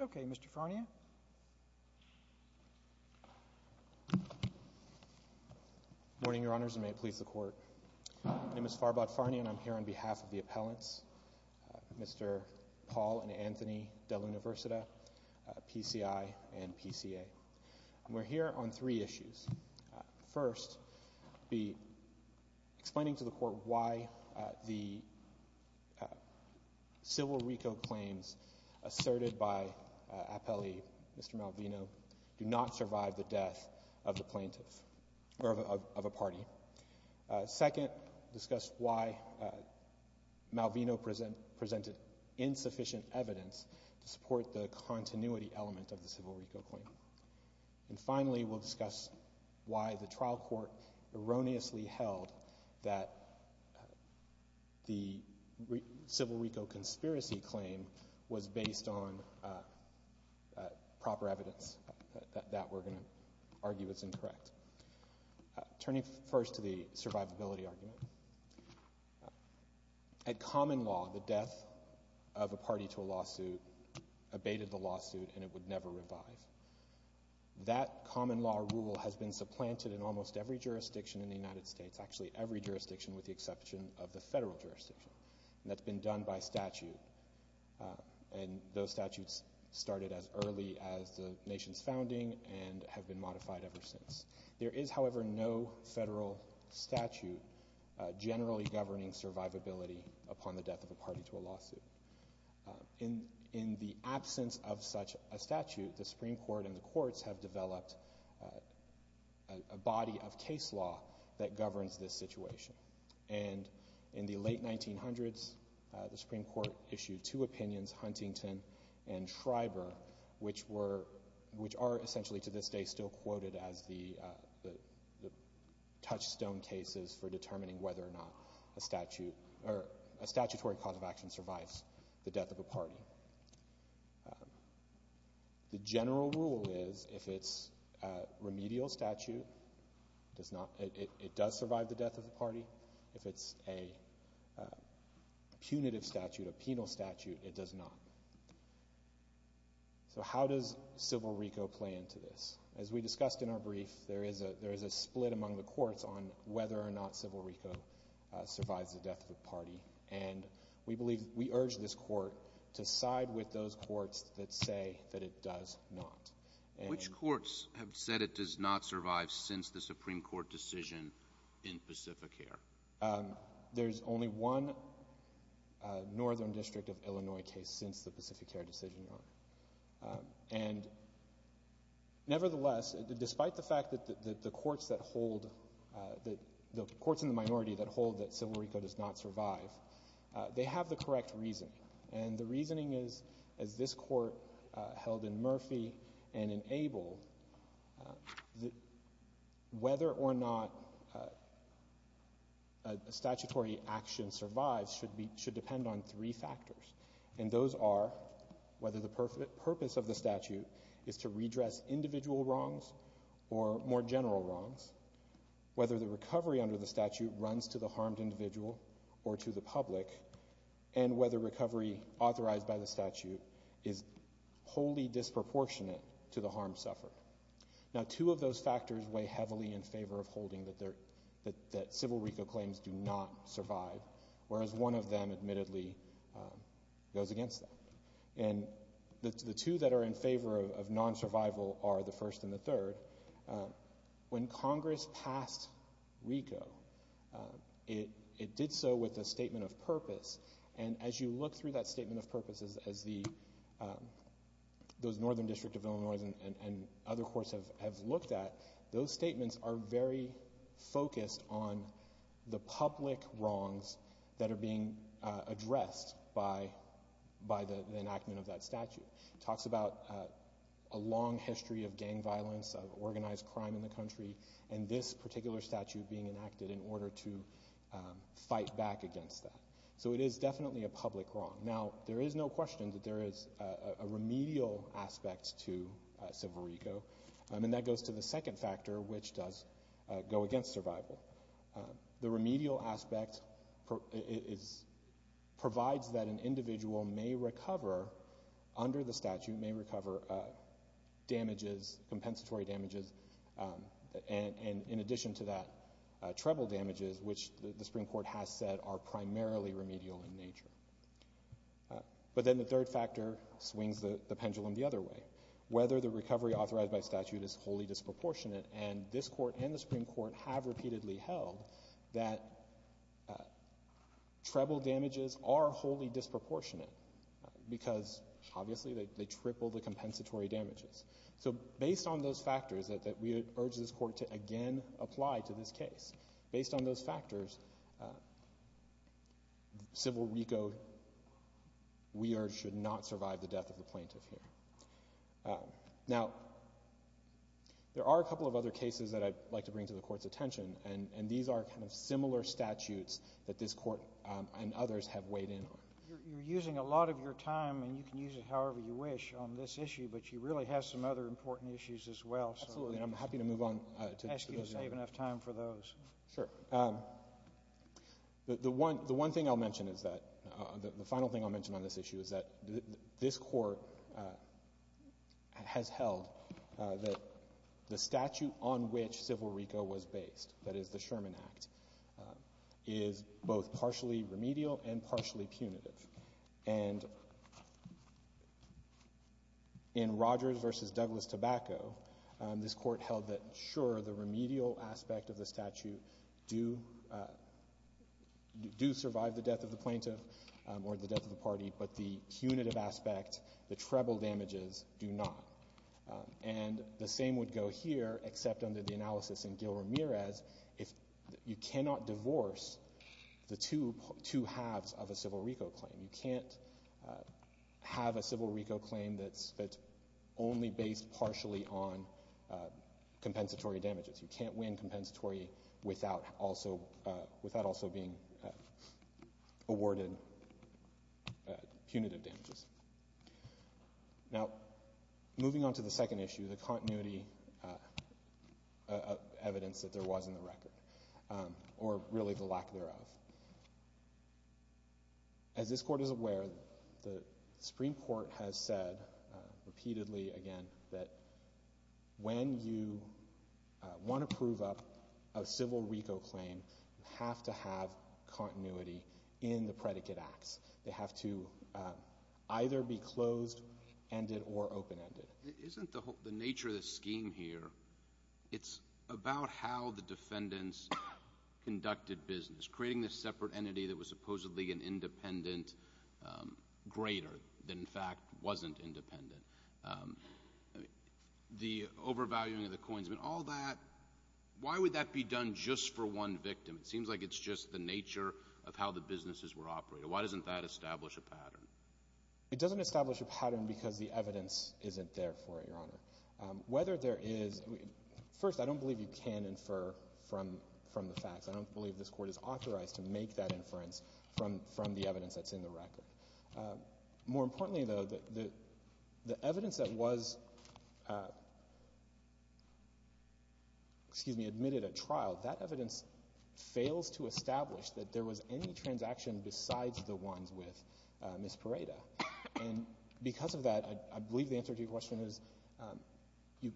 Okay, Mr. Farnia. Good morning, Your Honors, and may it please the Court. My name is Farbad Farnia, and I'm here on behalf of the appellants, Mr. Paul and Anthony Delluniversita, PCI and PCA. We're here on three issues. First, be explaining to the Court why the civil RICO claims asserted by appellee, Mr. Malvino, do not survive the death of the plaintiff or of a party. Second, discuss why Malvino presented insufficient evidence to support the continuity element of the civil RICO claim. And finally, we'll discuss why the trial court erroneously held that the civil RICO conspiracy claim was based on proper evidence, that we're going to argue it's incorrect. Turning first to the survivability argument, at common law, the death of a party to a lawsuit abated the lawsuit and it would never revive. That common law rule has been supplanted in almost every jurisdiction in the United States, actually every jurisdiction with the exception of the federal jurisdiction, and that's been done by statute. And those statutes started as early as the nation's founding and have been modified ever since. There is, however, no federal statute generally governing survivability upon the death of a party to a lawsuit. In the absence of such a statute, the Supreme Court and the courts have developed a body of case law that governs this situation. And in the late 1900s, the Supreme Court issued two opinions, Huntington and Schreiber, which are essentially to this day still quoted as the touchstone cases for determining whether or not a statute or a statutory cause of action survives the death of a party. The general rule is if it's a remedial statute, it does survive the death of the party. If it's a punitive statute, a penal statute, it does not. So how does Civil RICO play into this? As we discussed in our brief, there is a split among the courts on whether or not Civil RICO survives the death of a party. And we believe we urge this court to side with those courts that say that it does not. Which courts have said it does not survive since the Supreme Court decision in Pacific Air? There's only one northern district of Illinois case since the Pacific Air decision, Your Honor. And nevertheless, despite the fact that the courts that hold, the courts in the minority that hold that Civil RICO does not survive, they have the correct reasoning. And the reasoning is, as this court held in Murphy and in Abel, whether or not a statutory action survives should depend on three factors. And those are whether the purpose of the statute is to redress individual wrongs or more general wrongs, whether the recovery under the statute runs to the harmed individual or to the public, and whether recovery authorized by the statute is wholly disproportionate to the harm suffered. Now, two of those factors weigh heavily in favor of holding that Civil RICO claims do not survive, whereas one of them admittedly goes against that. And the two that are in favor of non-survival are the first and the third. When Congress passed RICO, it did so with a statement of purpose. And as you look through that statement of purpose, as those northern districts of Illinois and other courts have looked at, those statements are very focused on the public wrongs that are being addressed by the enactment of that statute. It talks about a long history of gang violence, of organized crime in the country, and this particular statute being enacted in order to fight back against that. So it is definitely a public wrong. Now, there is no question that there is a remedial aspect to Civil RICO, and that goes to the second factor, which does go against survival. The remedial aspect provides that an individual may recover under the statute, may recover damages, compensatory damages, and in addition to that, treble damages, which the Supreme Court has said are primarily remedial in nature. But then the third factor swings the pendulum the other way. Whether the recovery authorized by statute is wholly disproportionate, and this court and the Supreme Court have repeatedly held that treble damages are wholly disproportionate because obviously they triple the compensatory damages. So based on those factors that we urge this court to again apply to this case, based on those factors, Civil RICO, we urge, should not survive the death of the plaintiff here. Now, there are a couple of other cases that I'd like to bring to the Court's attention, and these are kind of similar statutes that this Court and others have weighed in on. You're using a lot of your time, and you can use it however you wish on this issue, but you really have some other important issues as well. Absolutely, and I'm happy to move on to those. Ask you to save enough time for those. Sure. The one thing I'll mention is that the final thing I'll mention on this issue is that this Court has held that the statute on which Civil RICO was based, that is the Sherman Act, is both partially remedial and partially punitive. And in Rogers v. Douglas-Tobacco, this Court held that, sure, the remedial aspect of the statute do survive the death of the plaintiff or the death of the party, but the punitive aspect, the treble damages, do not. And the same would go here, except under the analysis in Gil Ramirez, you cannot divorce the two halves of a Civil RICO claim. You can't have a Civil RICO claim that's only based partially on compensatory damages. You can't win compensatory without also being awarded punitive damages. Now, moving on to the second issue, the continuity of evidence that there was in the record, or really the lack thereof. As this Court is aware, the Supreme Court has said repeatedly, again, that when you want to prove up a Civil RICO claim, you have to have continuity in the predicate acts. They have to either be closed-ended or open-ended. Isn't the nature of the scheme here, it's about how the defendants conducted business, creating this separate entity that was supposedly an independent greater than, in fact, wasn't independent. The overvaluing of the coins, all that, why would that be done just for one victim? It seems like it's just the nature of how the businesses were operated. Why doesn't that establish a pattern? It doesn't establish a pattern because the evidence isn't there for it, Your Honor. Whether there is, first, I don't believe you can infer from the facts. I don't believe this Court is authorized to make that inference from the evidence that's in the record. More importantly, though, the evidence that was admitted at trial, that evidence fails to establish that there was any transaction besides the ones with Ms. Pareda. And because of that, I believe the answer to your question is you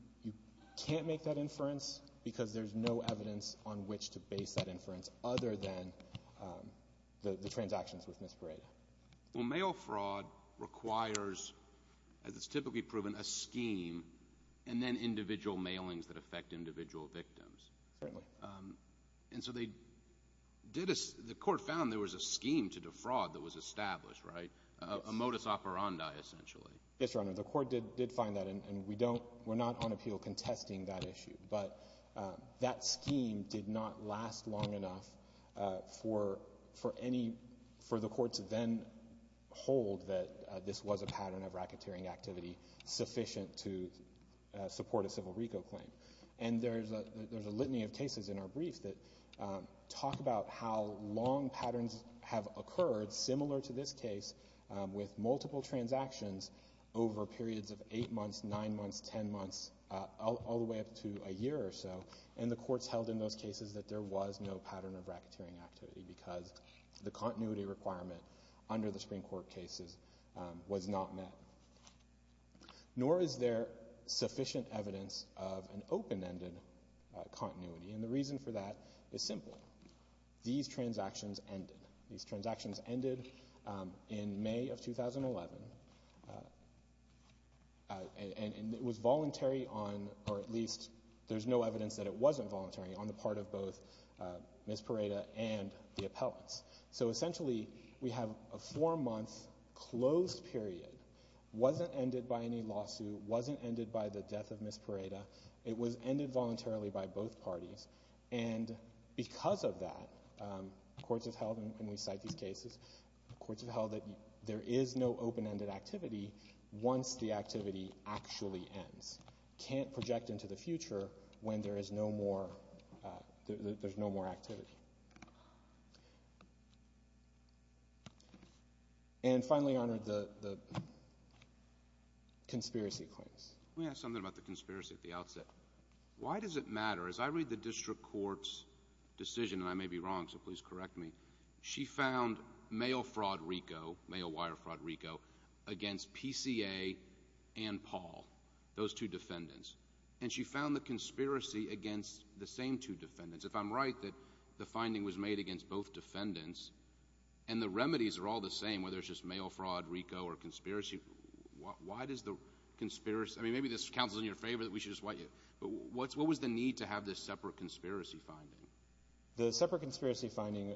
can't make that inference because there's no evidence on which to base that inference other than the transactions with Ms. Pareda. Well, mail fraud requires, as it's typically proven, a scheme and then individual mailings that affect individual victims. Certainly. And so the Court found there was a scheme to defraud that was established, right? A modus operandi, essentially. Yes, Your Honor. The Court did find that, and we're not on appeal contesting that issue. But that scheme did not last long enough for the Court to then hold that this was a pattern of racketeering activity sufficient to support a civil RICO claim. And there's a litany of cases in our brief that talk about how long patterns have occurred, similar to this case, with multiple transactions over periods of eight months, nine months, ten months, all the way up to a year or so. And the Court's held in those cases that there was no pattern of racketeering activity because the continuity requirement under the Supreme Court cases was not met. Nor is there sufficient evidence of an open-ended continuity. And the reason for that is simple. These transactions ended. These transactions ended in May of 2011, and it was voluntary on, or at least there's no evidence that it wasn't voluntary, on the part of both Ms. Pareda and the appellants. So essentially, we have a four-month closed period. It wasn't ended by any lawsuit. It wasn't ended by the death of Ms. Pareda. It was ended voluntarily by both parties. And because of that, courts have held, and we cite these cases, courts have held that there is no open-ended activity once the activity actually ends. Appellants can't project into the future when there is no more activity. And finally, Your Honor, the conspiracy claims. Let me ask something about the conspiracy at the outset. Why does it matter? As I read the district court's decision, and I may be wrong, so please correct me, she found mail fraud RICO, mail wire fraud RICO, against PCA and Paul, those two defendants. And she found the conspiracy against the same two defendants. If I'm right that the finding was made against both defendants, and the remedies are all the same, whether it's just mail fraud RICO or conspiracy, why does the conspiracy – I mean, maybe this counts as in your favor that we should just – but what was the need to have this separate conspiracy finding? The separate conspiracy finding,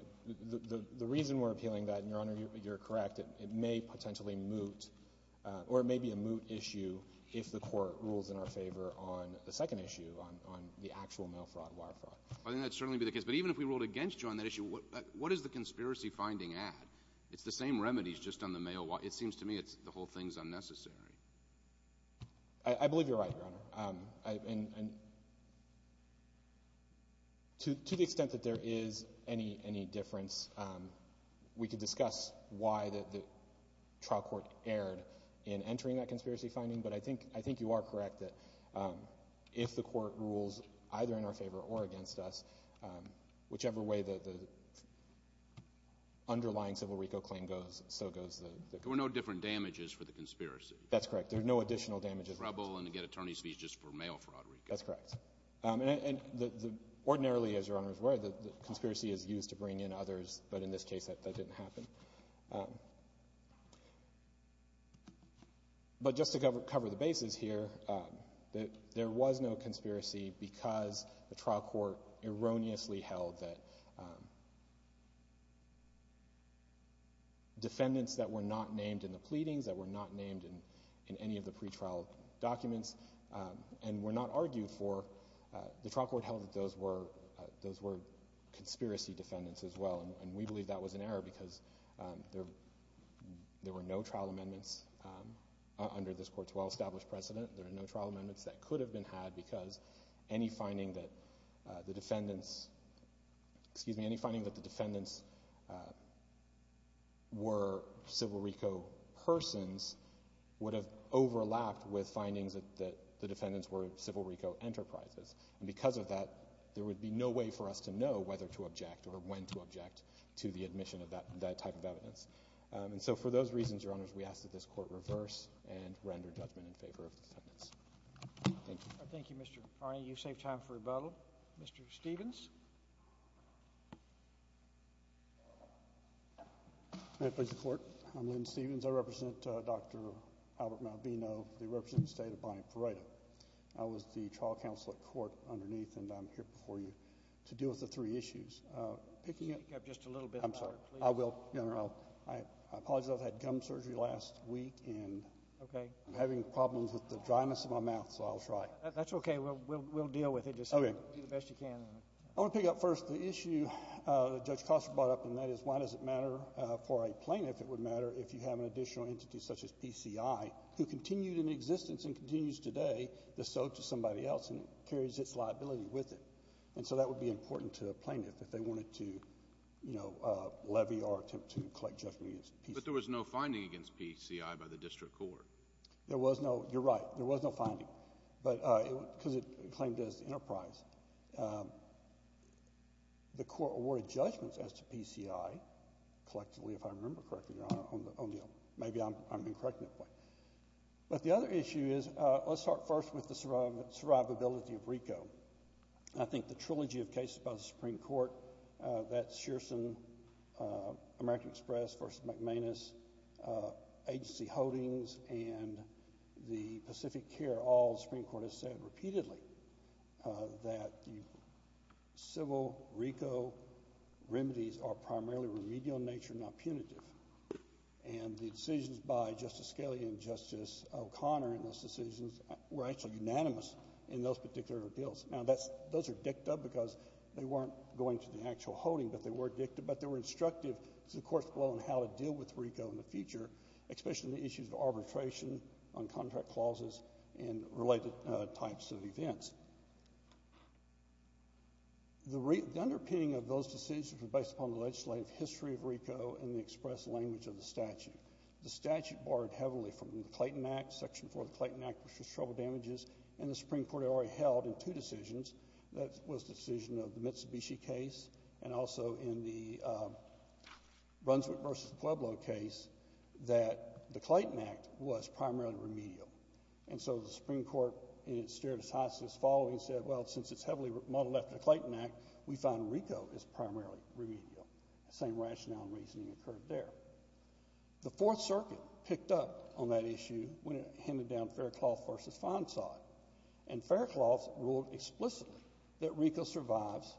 the reason we're appealing that, and Your Honor, you're correct, it may potentially moot, or it may be a moot issue if the court rules in our favor on the second issue, on the actual mail fraud wire fraud. I think that would certainly be the case. But even if we ruled against you on that issue, what does the conspiracy finding add? It's the same remedies, just on the mail wire. It seems to me the whole thing is unnecessary. I believe you're right, Your Honor. And to the extent that there is any difference, we could discuss why the trial court erred in entering that conspiracy finding, but I think you are correct that if the court rules either in our favor or against us, whichever way the underlying civil RICO claim goes, so goes the – There were no different damages for the conspiracy. That's correct. There were no additional damages. To get trouble and to get attorney's fees just for mail fraud RICO. That's correct. And ordinarily, as Your Honor is aware, the conspiracy is used to bring in others, but in this case that didn't happen. But just to cover the bases here, there was no conspiracy because the trial court erroneously held that the defendants that were not named in the pleadings, that were not named in any of the pretrial documents, and were not argued for, the trial court held that those were conspiracy defendants as well, and we believe that was an error because there were no trial amendments under this court's well-established precedent. There are no trial amendments that could have been had because any finding that the defendants were civil RICO persons would have overlapped with findings that the defendants were civil RICO enterprises. And because of that, there would be no way for us to know whether to object or when to object to the admission of that type of evidence. And so for those reasons, Your Honors, we ask that this court reverse and render judgment in favor of the defendants. Thank you. Thank you, Mr. Carney. You saved time for rebuttal. Mr. Stevens. May it please the Court. I'm Lynn Stevens. I represent Dr. Albert Malvino. They represent the State of Bonnie Parada. I was the trial counsel at court underneath, and I'm here before you to deal with the three issues. Picking up just a little bit. I'm sorry. I will. I apologize. I've had gum surgery last week, and I'm having problems with the dryness of my mouth, so I'll try. That's okay. We'll deal with it. Just do the best you can. I want to pick up first the issue that Judge Koster brought up, and that is why does it matter for a plaintiff? It would matter if you have an additional entity such as PCI who continued in existence and continues today to sew to somebody else and carries its liability with it. And so that would be important to a plaintiff if they wanted to, you know, levy or attempt to collect judgment against PCI. But there was no finding against PCI by the district court. There was no. You're right. There was no finding. But because it claimed as the enterprise, the court awarded judgments as to PCI collectively, if I remember correctly. Maybe I'm incorrect in that way. But the other issue is let's start first with the survivability of RICO. I think the trilogy of cases by the Supreme Court, that's Shearson, American Express versus McManus, agency holdings and the Pacific Care, all the Supreme Court has said repeatedly that the civil RICO remedies are primarily remedial in nature, not punitive. And the decisions by Justice Scalia and Justice O'Connor in those decisions were actually unanimous in those particular appeals. Now, those are dicta because they weren't going to the actual holding, but they were dicta, but they were instructive to the court's role in how to deal with RICO in the future, especially the issues of arbitration on contract clauses and related types of events. The underpinning of those decisions were based upon the legislative history of RICO and the express language of the statute. The statute borrowed heavily from the Clayton Act, Section 4 of the Clayton Act, which was trouble damages, and the Supreme Court already held in two decisions. That was the decision of the Mitsubishi case and also in the Brunswick versus Pueblo case that the Clayton Act was primarily remedial. And so the Supreme Court in its stare decisis following said, well, since it's heavily modeled after the Clayton Act, we find RICO is primarily remedial. The same rationale and reasoning occurred there. The Fourth Circuit picked up on that issue when it handed down Faircloth versus Fondsot. And Faircloth ruled explicitly that RICO survives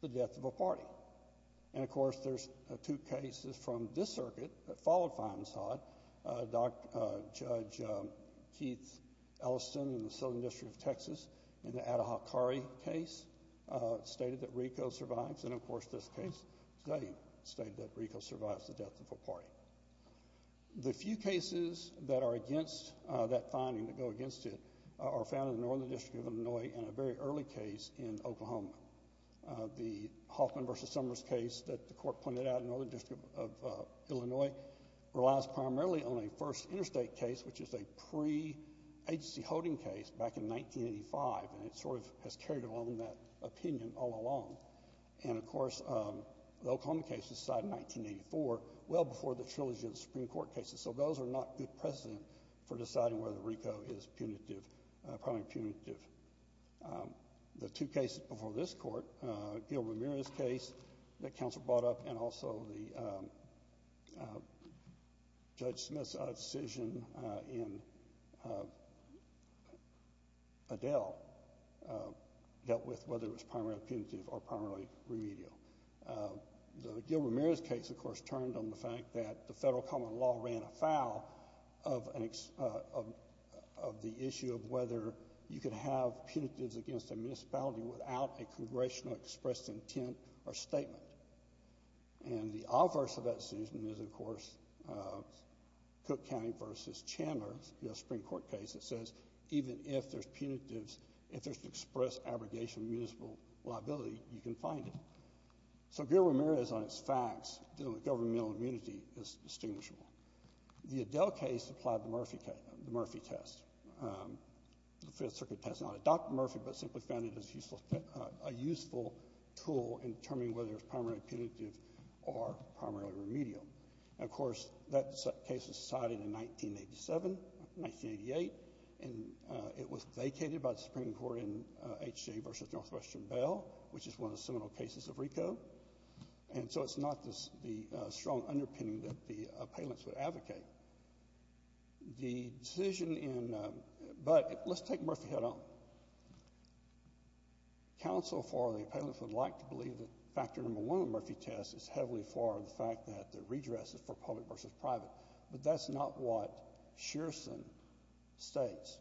the death of a party. And, of course, there's two cases from this circuit that followed Fondsot. Judge Keith Ellison in the Southern District of Texas in the Atahachare case stated that RICO survives, and, of course, this case today stated that RICO survives the death of a party. The few cases that are against that finding, that go against it, are found in the Northern District of Illinois and a very early case in Oklahoma. The Hoffman versus Summers case that the Court pointed out in the Northern District of Illinois relies primarily on a first interstate case, which is a pre-agency holding case back in 1985, and it sort of has carried along that opinion all along. And, of course, the Oklahoma case was decided in 1984, well before the trilogy of Supreme Court cases. So those are not good precedent for deciding whether RICO is punitive, primarily punitive. The two cases before this Court, Gil Ramirez's case that counsel brought up and also Judge Smith's decision in Adele dealt with whether it was primarily punitive or primarily remedial. Gil Ramirez's case, of course, turned on the fact that the federal common law ran afoul of the issue of whether you could have punitives against a municipality without a congressional expressed intent or statement. And the obverse of that decision is, of course, Cook County versus Chandler's Supreme Court case that says even if there's punitives, if there's express abrogation of municipal liability, you can find it. So Gil Ramirez on its facts dealing with governmental immunity is distinguishable. The Adele case applied the Murphy test. The Fifth Circuit test not adopted Murphy, but simply found it as a useful tool in determining whether it was primarily punitive or primarily remedial. And, of course, that case was decided in 1987, 1988, and it was vacated by the Supreme Court in H.J. versus Northwestern Bail, which is one of the seminal cases of RICO. And so it's not the strong underpinning that the appellants would advocate. The decision in — but let's take Murphy head-on. Counsel for the appellants would like to believe that factor number one of Murphy test is heavily for the fact that the redress is for public versus private, but that's not what Shearson states.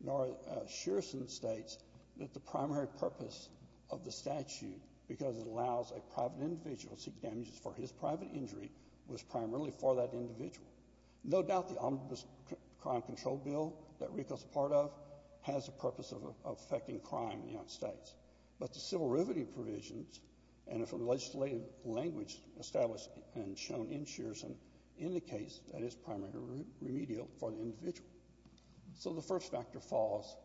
Nor is — Shearson states that the primary purpose of the statute, because it allows a private individual to seek damages for his private injury, was primarily for that individual. No doubt the Omnibus Crime Control Bill that RICO's a part of has a purpose of effecting crime in the United States. But the civil riveting provisions, and from the legislative language established and shown in Shearson, indicates that it's primarily remedial for the individual. So the first factor falls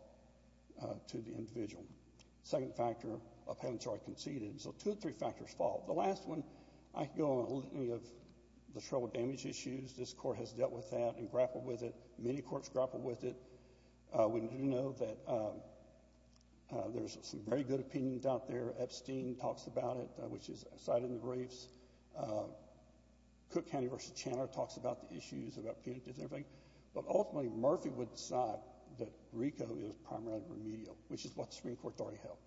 to the individual. Second factor, appellants are conceded. So two or three factors fall. The last one, I can go on any of the trouble damage issues. This Court has dealt with that and grappled with it. Many courts grappled with it. We do know that there's some very good opinions out there. Epstein talks about it, which is cited in the briefs. Cook County versus Chanter talks about the issues, about punitive and everything. But ultimately Murphy would decide that RICO is primarily remedial, which is what the Supreme Court already held.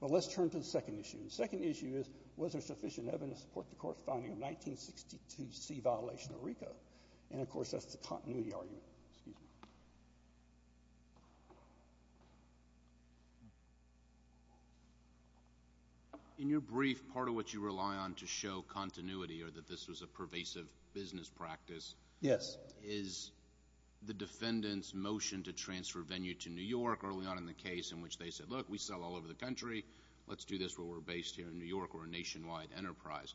But let's turn to the second issue. The second issue is, was there sufficient evidence to support the court's finding of 1962C violation of RICO? And, of course, that's the continuity argument. Excuse me. In your brief, part of what you rely on to show continuity, or that this was a pervasive business practice, Yes. is the defendant's motion to transfer venue to New York early on in the case in which they said, Look, we sell all over the country. Let's do this where we're based here in New York or a nationwide enterprise.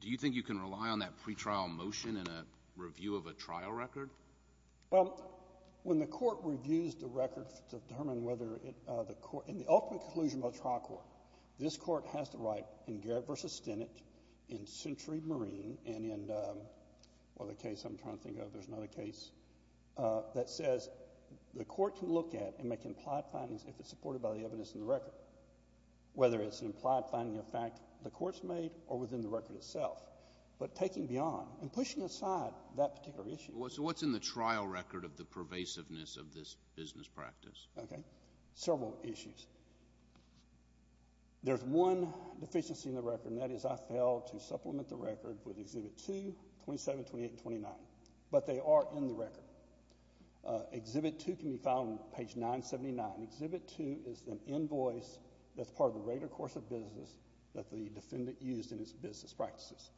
Do you think you can rely on that pretrial motion in a review of a trial record? Well, when the court reviews the record to determine whether the court, in the ultimate conclusion of a trial court, this court has the right, in Garrett v. Stennett, in Century Marine, and in the case I'm trying to think of, there's another case that says the court can look at and make implied findings if it's supported by the evidence in the record, whether it's an implied finding of fact the court's made or within the record itself. But taking beyond and pushing aside that particular issue. So what's in the trial record of the pervasiveness of this business practice? Okay. There are several issues. There's one deficiency in the record, and that is I failed to supplement the record with Exhibit 2, 27, 28, and 29. But they are in the record. Exhibit 2 can be found on page 979. Exhibit 2 is an invoice that's part of the regular course of business that the defendant used in his business practices.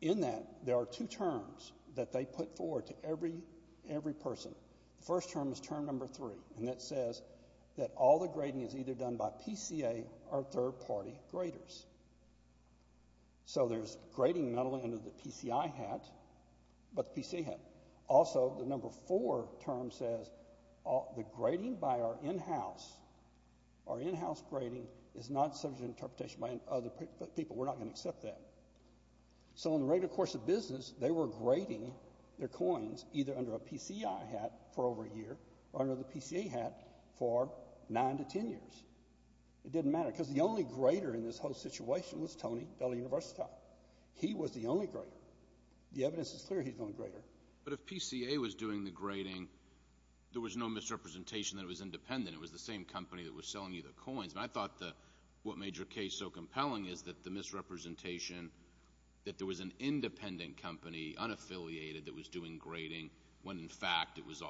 In that, there are two terms that they put forward to every person. The first term is term number three, and that says that all the grading is either done by PCA or third-party graders. So there's grading not only under the PCI hat, but the PCA hat. Also, the number four term says the grading by our in-house grading is not subject to interpretation by other people. We're not going to accept that. So in the regular course of business, they were grading their coins either under a PCI hat for over a year or under the PCA hat for 9 to 10 years. It didn't matter because the only grader in this whole situation was Tony Della Università. He was the only grader. The evidence is clear he's the only grader. But if PCA was doing the grading, there was no misrepresentation that it was independent. It was the same company that was selling you the coins. And I thought what made your case so compelling is that the misrepresentation that there was an independent company, unaffiliated, that was doing grading when, in fact, it was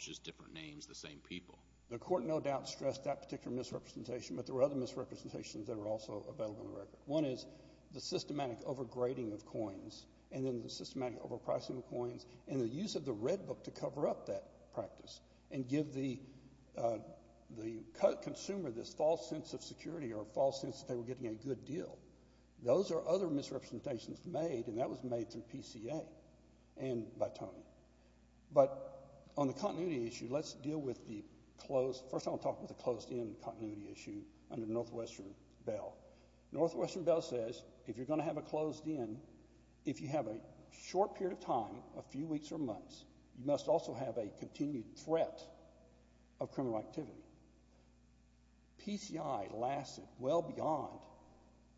just different names, the same people. The court no doubt stressed that particular misrepresentation, but there were other misrepresentations that are also available in the record. One is the systematic overgrading of coins and then the systematic overpricing of coins and the use of the Red Book to cover up that practice and give the consumer this false sense of security or a false sense that they were getting a good deal. Those are other misrepresentations made, and that was made through PCA and by Tony. But on the continuity issue, let's deal with the close. First I want to talk about the closed-in continuity issue under Northwestern Bell. Northwestern Bell says if you're going to have a closed-in, if you have a short period of time, a few weeks or months, you must also have a continued threat of criminal activity. PCI lasted well beyond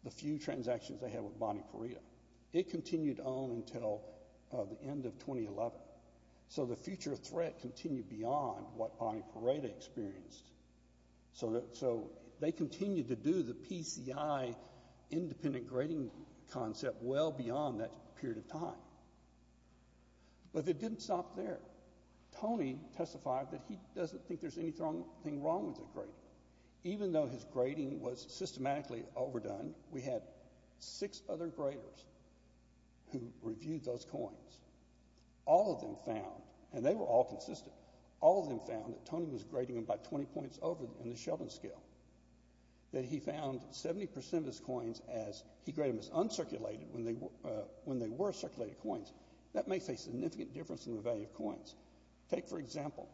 the few transactions they had with Bonnie Pareda. It continued to own until the end of 2011. So the future threat continued beyond what Bonnie Pareda experienced. So they continued to do the PCI independent grading concept well beyond that period of time. But it didn't stop there. Tony testified that he doesn't think there's anything wrong with the grading. Even though his grading was systematically overdone, we had six other graders who reviewed those coins. All of them found, and they were all consistent, all of them found that Tony was grading them by 20 points over in the Sheldon scale, that he found 70 percent of his coins as he graded them as uncirculated when they were circulated coins. That makes a significant difference in the value of coins. Take, for example,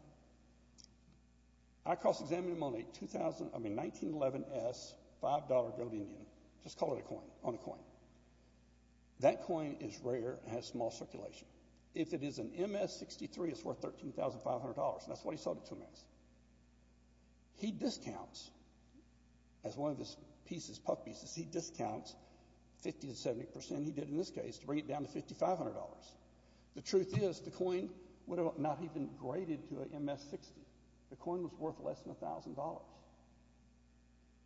I cross-examined him on a 1911S $5 gold Indian. That coin is rare and has small circulation. If it is an MS63, it's worth $13,500, and that's what he sold it to him as. He discounts, as one of his pieces, puck pieces, he discounts 50 to 70 percent, he did in this case, to bring it down to $5,500. The truth is the coin would have not even graded to an MS60.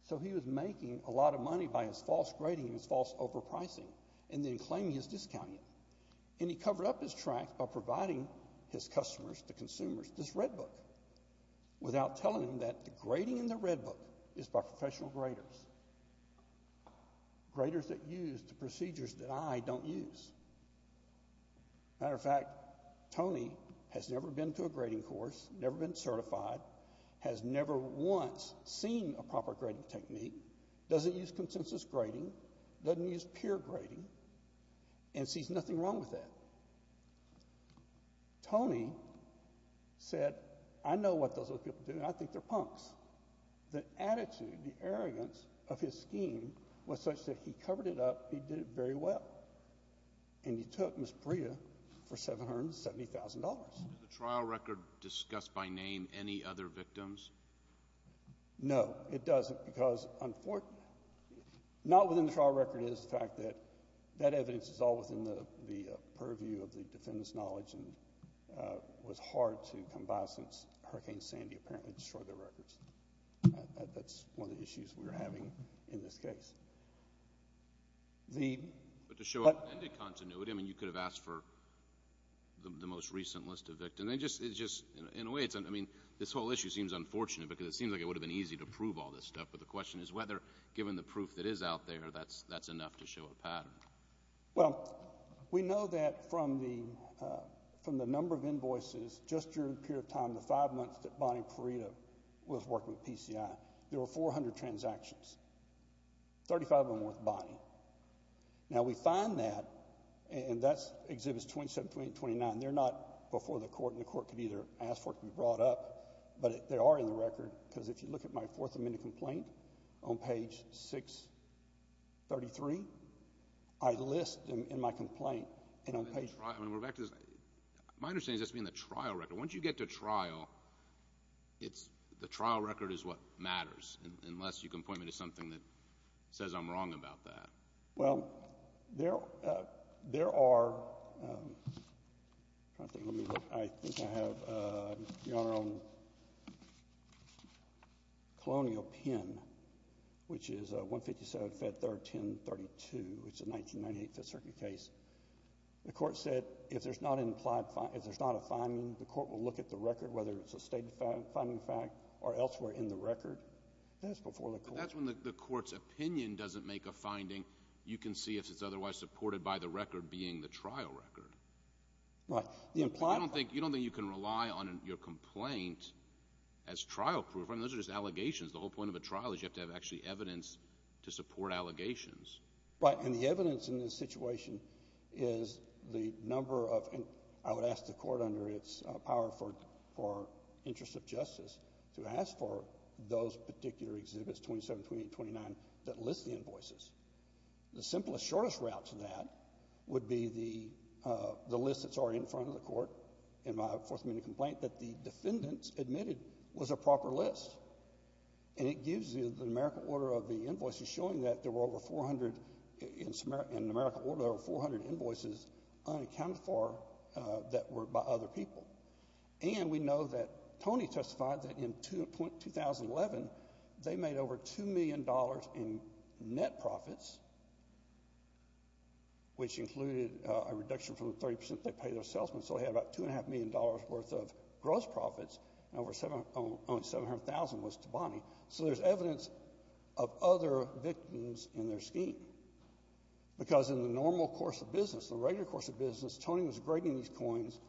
So he was making a lot of money by his false grading and his false overpricing, and then claiming his discounting. And he covered up his tracks by providing his customers, the consumers, this Red Book, without telling them that the grading in the Red Book is by professional graders, graders that use the procedures that I don't use. Matter of fact, Tony has never been to a grading course, never been certified, has never once seen a proper grading technique, doesn't use consensus grading, doesn't use peer grading, and sees nothing wrong with that. Tony said, I know what those other people do, and I think they're punks. The attitude, the arrogance of his scheme was such that he covered it up, he did it very well. And he took Ms. Priya for $770,000. Does the trial record discuss by name any other victims? No, it doesn't, because not within the trial record is the fact that that evidence is all within the purview of the defendant's knowledge and was hard to come by since Hurricane Sandy apparently destroyed their records. That's one of the issues we were having in this case. But to show up-ended continuity, I mean, you could have asked for the most recent list of victims. It's just, in a way, I mean, this whole issue seems unfortunate, because it seems like it would have been easy to prove all this stuff, but the question is whether, given the proof that is out there, that's enough to show a pattern. Well, we know that from the number of invoices, just during the period of time, the five months that Bonnie Perito was working with PCI, there were 400 transactions, 35 of them with Bonnie. Now, we find that, and that's Exhibits 27, 28, and 29. They're not before the court, and the court could either ask for it or it could be brought up. But they are in the record, because if you look at my Fourth Amendment complaint on page 633, I list them in my complaint. My understanding is that's being the trial record. Once you get to trial, it's the trial record is what matters, unless you can point me to something that says I'm wrong about that. Well, there are, I think I have, Your Honor, on Colonial Pen, which is 157, Fed 3rd, 1032. It's a 1998 Fifth Circuit case. The court said if there's not an implied, if there's not a finding, the court will look at the record, whether it's a stated finding fact or elsewhere in the record. That's before the court. But that's when the court's opinion doesn't make a finding. You can see if it's otherwise supported by the record being the trial record. Right. You don't think you can rely on your complaint as trial proof. I mean, those are just allegations. The whole point of a trial is you have to have actually evidence to support allegations. Right. And the evidence in this situation is the number of, I would ask the court, under its power for interest of justice, to ask for those particular exhibits, 27, 28, 29, that list the invoices. The simplest, shortest route to that would be the list that's already in front of the court, in my Fourth Amendment complaint, that the defendants admitted was a proper list. And it gives you the numerical order of the invoices showing that there were over 400, in numerical order there were 400 invoices unaccounted for that were by other people. And we know that Tony testified that in 2011 they made over $2 million in net profits, which included a reduction from the 30% they pay their salesmen. So they had about $2.5 million worth of gross profits, and only $700,000 was to Bonnie. So there's evidence of other victims in their scheme. Because in the normal course of business, the regular course of business, Tony was grading these coins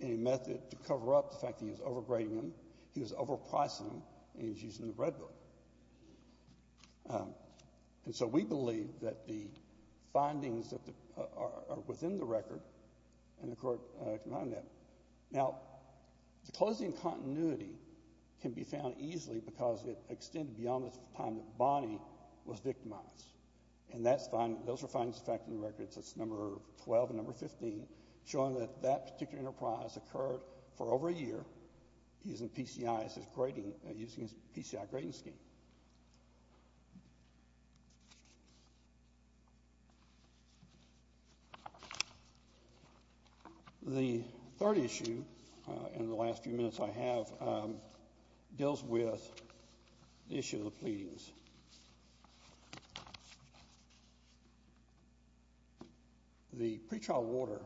in a method to cover up the fact that he was overgrading them, he was overpricing them, and he was using the red book. And so we believe that the findings are within the record, and the court can find them. Now, the closing continuity can be found easily because it extended beyond the time that Bonnie was victimized. And that's fine. Those are findings affecting the records. That's number 12 and number 15, showing that that particular enterprise occurred for over a year, using PCI grading scheme. The third issue in the last few minutes I have deals with the issue of the pleadings. The pretrial order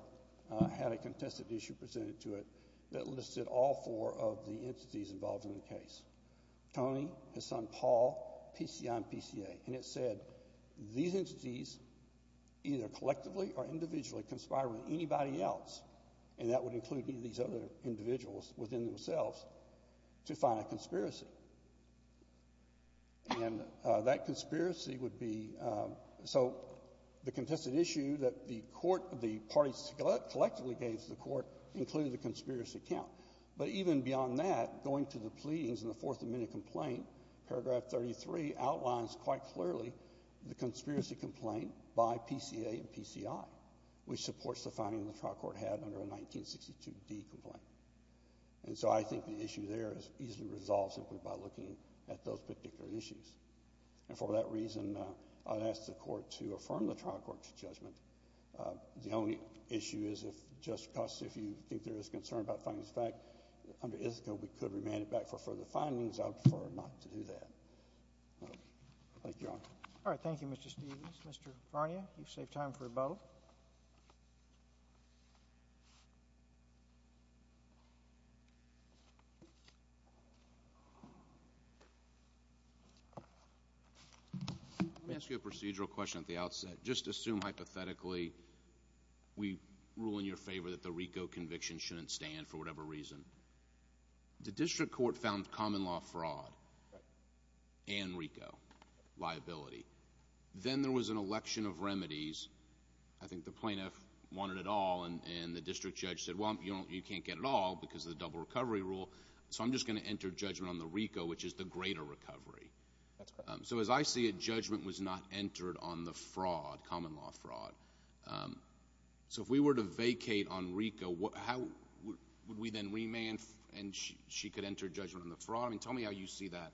had a contested issue presented to it that listed all four of the entities involved in the case. Tony, his son Paul, PCI, and PCA. And it said these entities either collectively or individually conspired with anybody else, and that would include any of these other individuals within themselves, to find a conspiracy. And that conspiracy would be so the contested issue that the court, the parties collectively gave to the court included the conspiracy count. But even beyond that, going to the pleadings in the Fourth Amendment complaint, paragraph 33 outlines quite clearly the conspiracy complaint by PCA and PCI, which supports the finding the trial court had under a 1962D complaint. And so I think the issue there is easily resolved simply by looking at those particular issues. And for that reason, I would ask the court to affirm the trial court's judgment. The only issue is if, Justice Costa, if you think there is concern about findings of fact, under Ithaca we could remand it back for further findings. I would prefer not to do that. Thank you, Your Honor. All right. Thank you, Mr. Stevens. Mr. Varnia, you've saved time for both. Let me ask you a procedural question at the outset. Just assume hypothetically we rule in your favor that the RICO conviction shouldn't stand for whatever reason. The district court found common law fraud and RICO liability. Then there was an election of remedies. I think the plaintiff wanted it all, and the district judge said, well, you can't get it all because of the double recovery rule, so I'm just going to enter judgment on the RICO, which is the greater recovery. That's correct. So as I see it, judgment was not entered on the fraud, common law fraud. So if we were to vacate on RICO, how would we then remand and she could enter judgment on the fraud? I mean, tell me how you see that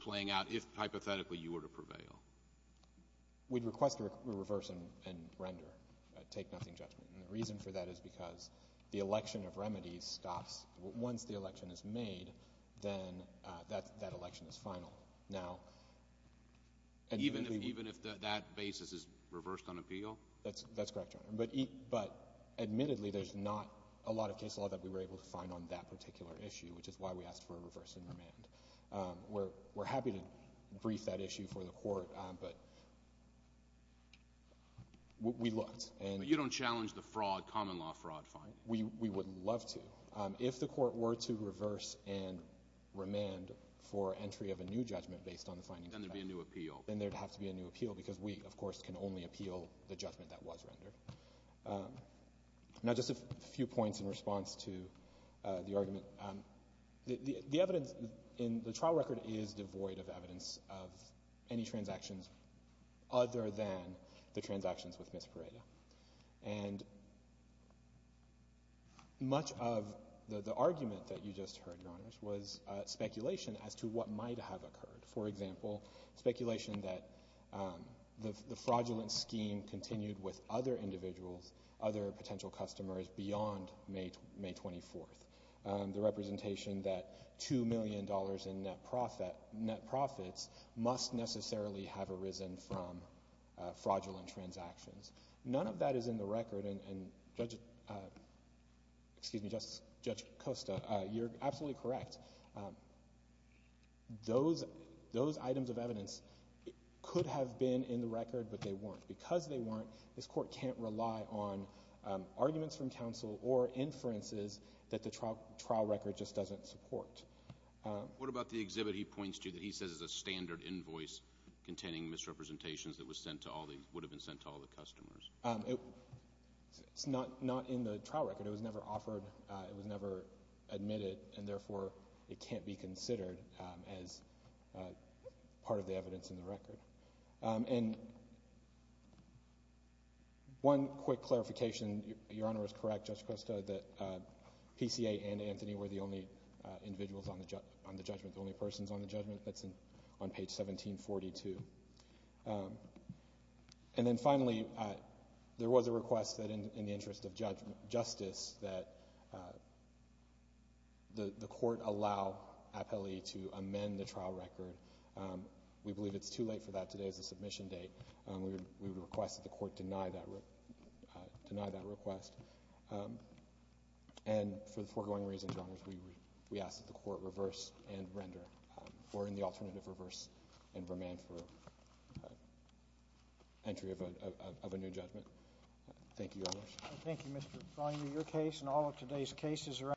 playing out if hypothetically you were to prevail. We'd request a reverse and render, take nothing judgment. And the reason for that is because the election of remedies stops. Once the election is made, then that election is final. Now— Even if that basis is reversed on appeal? That's correct, Your Honor. But admittedly, there's not a lot of case law that we were able to find on that particular issue, which is why we asked for a reverse and remand. We're happy to brief that issue for the Court, but we looked. But you don't challenge the fraud, common law fraud finding? We would love to. If the Court were to reverse and remand for entry of a new judgment based on the findings— Then there would be a new appeal. Then there would have to be a new appeal because we, of course, can only appeal the judgment that was rendered. Now, just a few points in response to the argument. The evidence in the trial record is devoid of evidence of any transactions other than the transactions with Ms. Pareda. And much of the argument that you just heard, Your Honors, was speculation as to what might have occurred. For example, speculation that the fraudulent scheme continued with other individuals, other potential customers, beyond May 24th. The representation that $2 million in net profits must necessarily have arisen from fraudulent transactions. None of that is in the record. You're absolutely correct. Those items of evidence could have been in the record, but they weren't. Because they weren't, this Court can't rely on arguments from counsel or inferences that the trial record just doesn't support. What about the exhibit he points to that he says is a standard invoice containing misrepresentations that would have been sent to all the customers? It's not in the trial record. It was never offered. It was never admitted. And therefore, it can't be considered as part of the evidence in the record. And one quick clarification. Your Honor is correct, Justice Costa, that PCA and Anthony were the only individuals on the judgment, the only persons on the judgment that's on page 1742. And then finally, there was a request that in the interest of justice, that the Court allow appellee to amend the trial record. We believe it's too late for that today as the submission date. We would request that the Court deny that request. And for the foregoing reasons, Your Honor, we ask that the Court reverse and render, or in the alternative, reverse and remand for entry of a new judgment. Thank you, Your Honor. Thank you, Mr. Feinberg. Your case and all of today's cases are under review.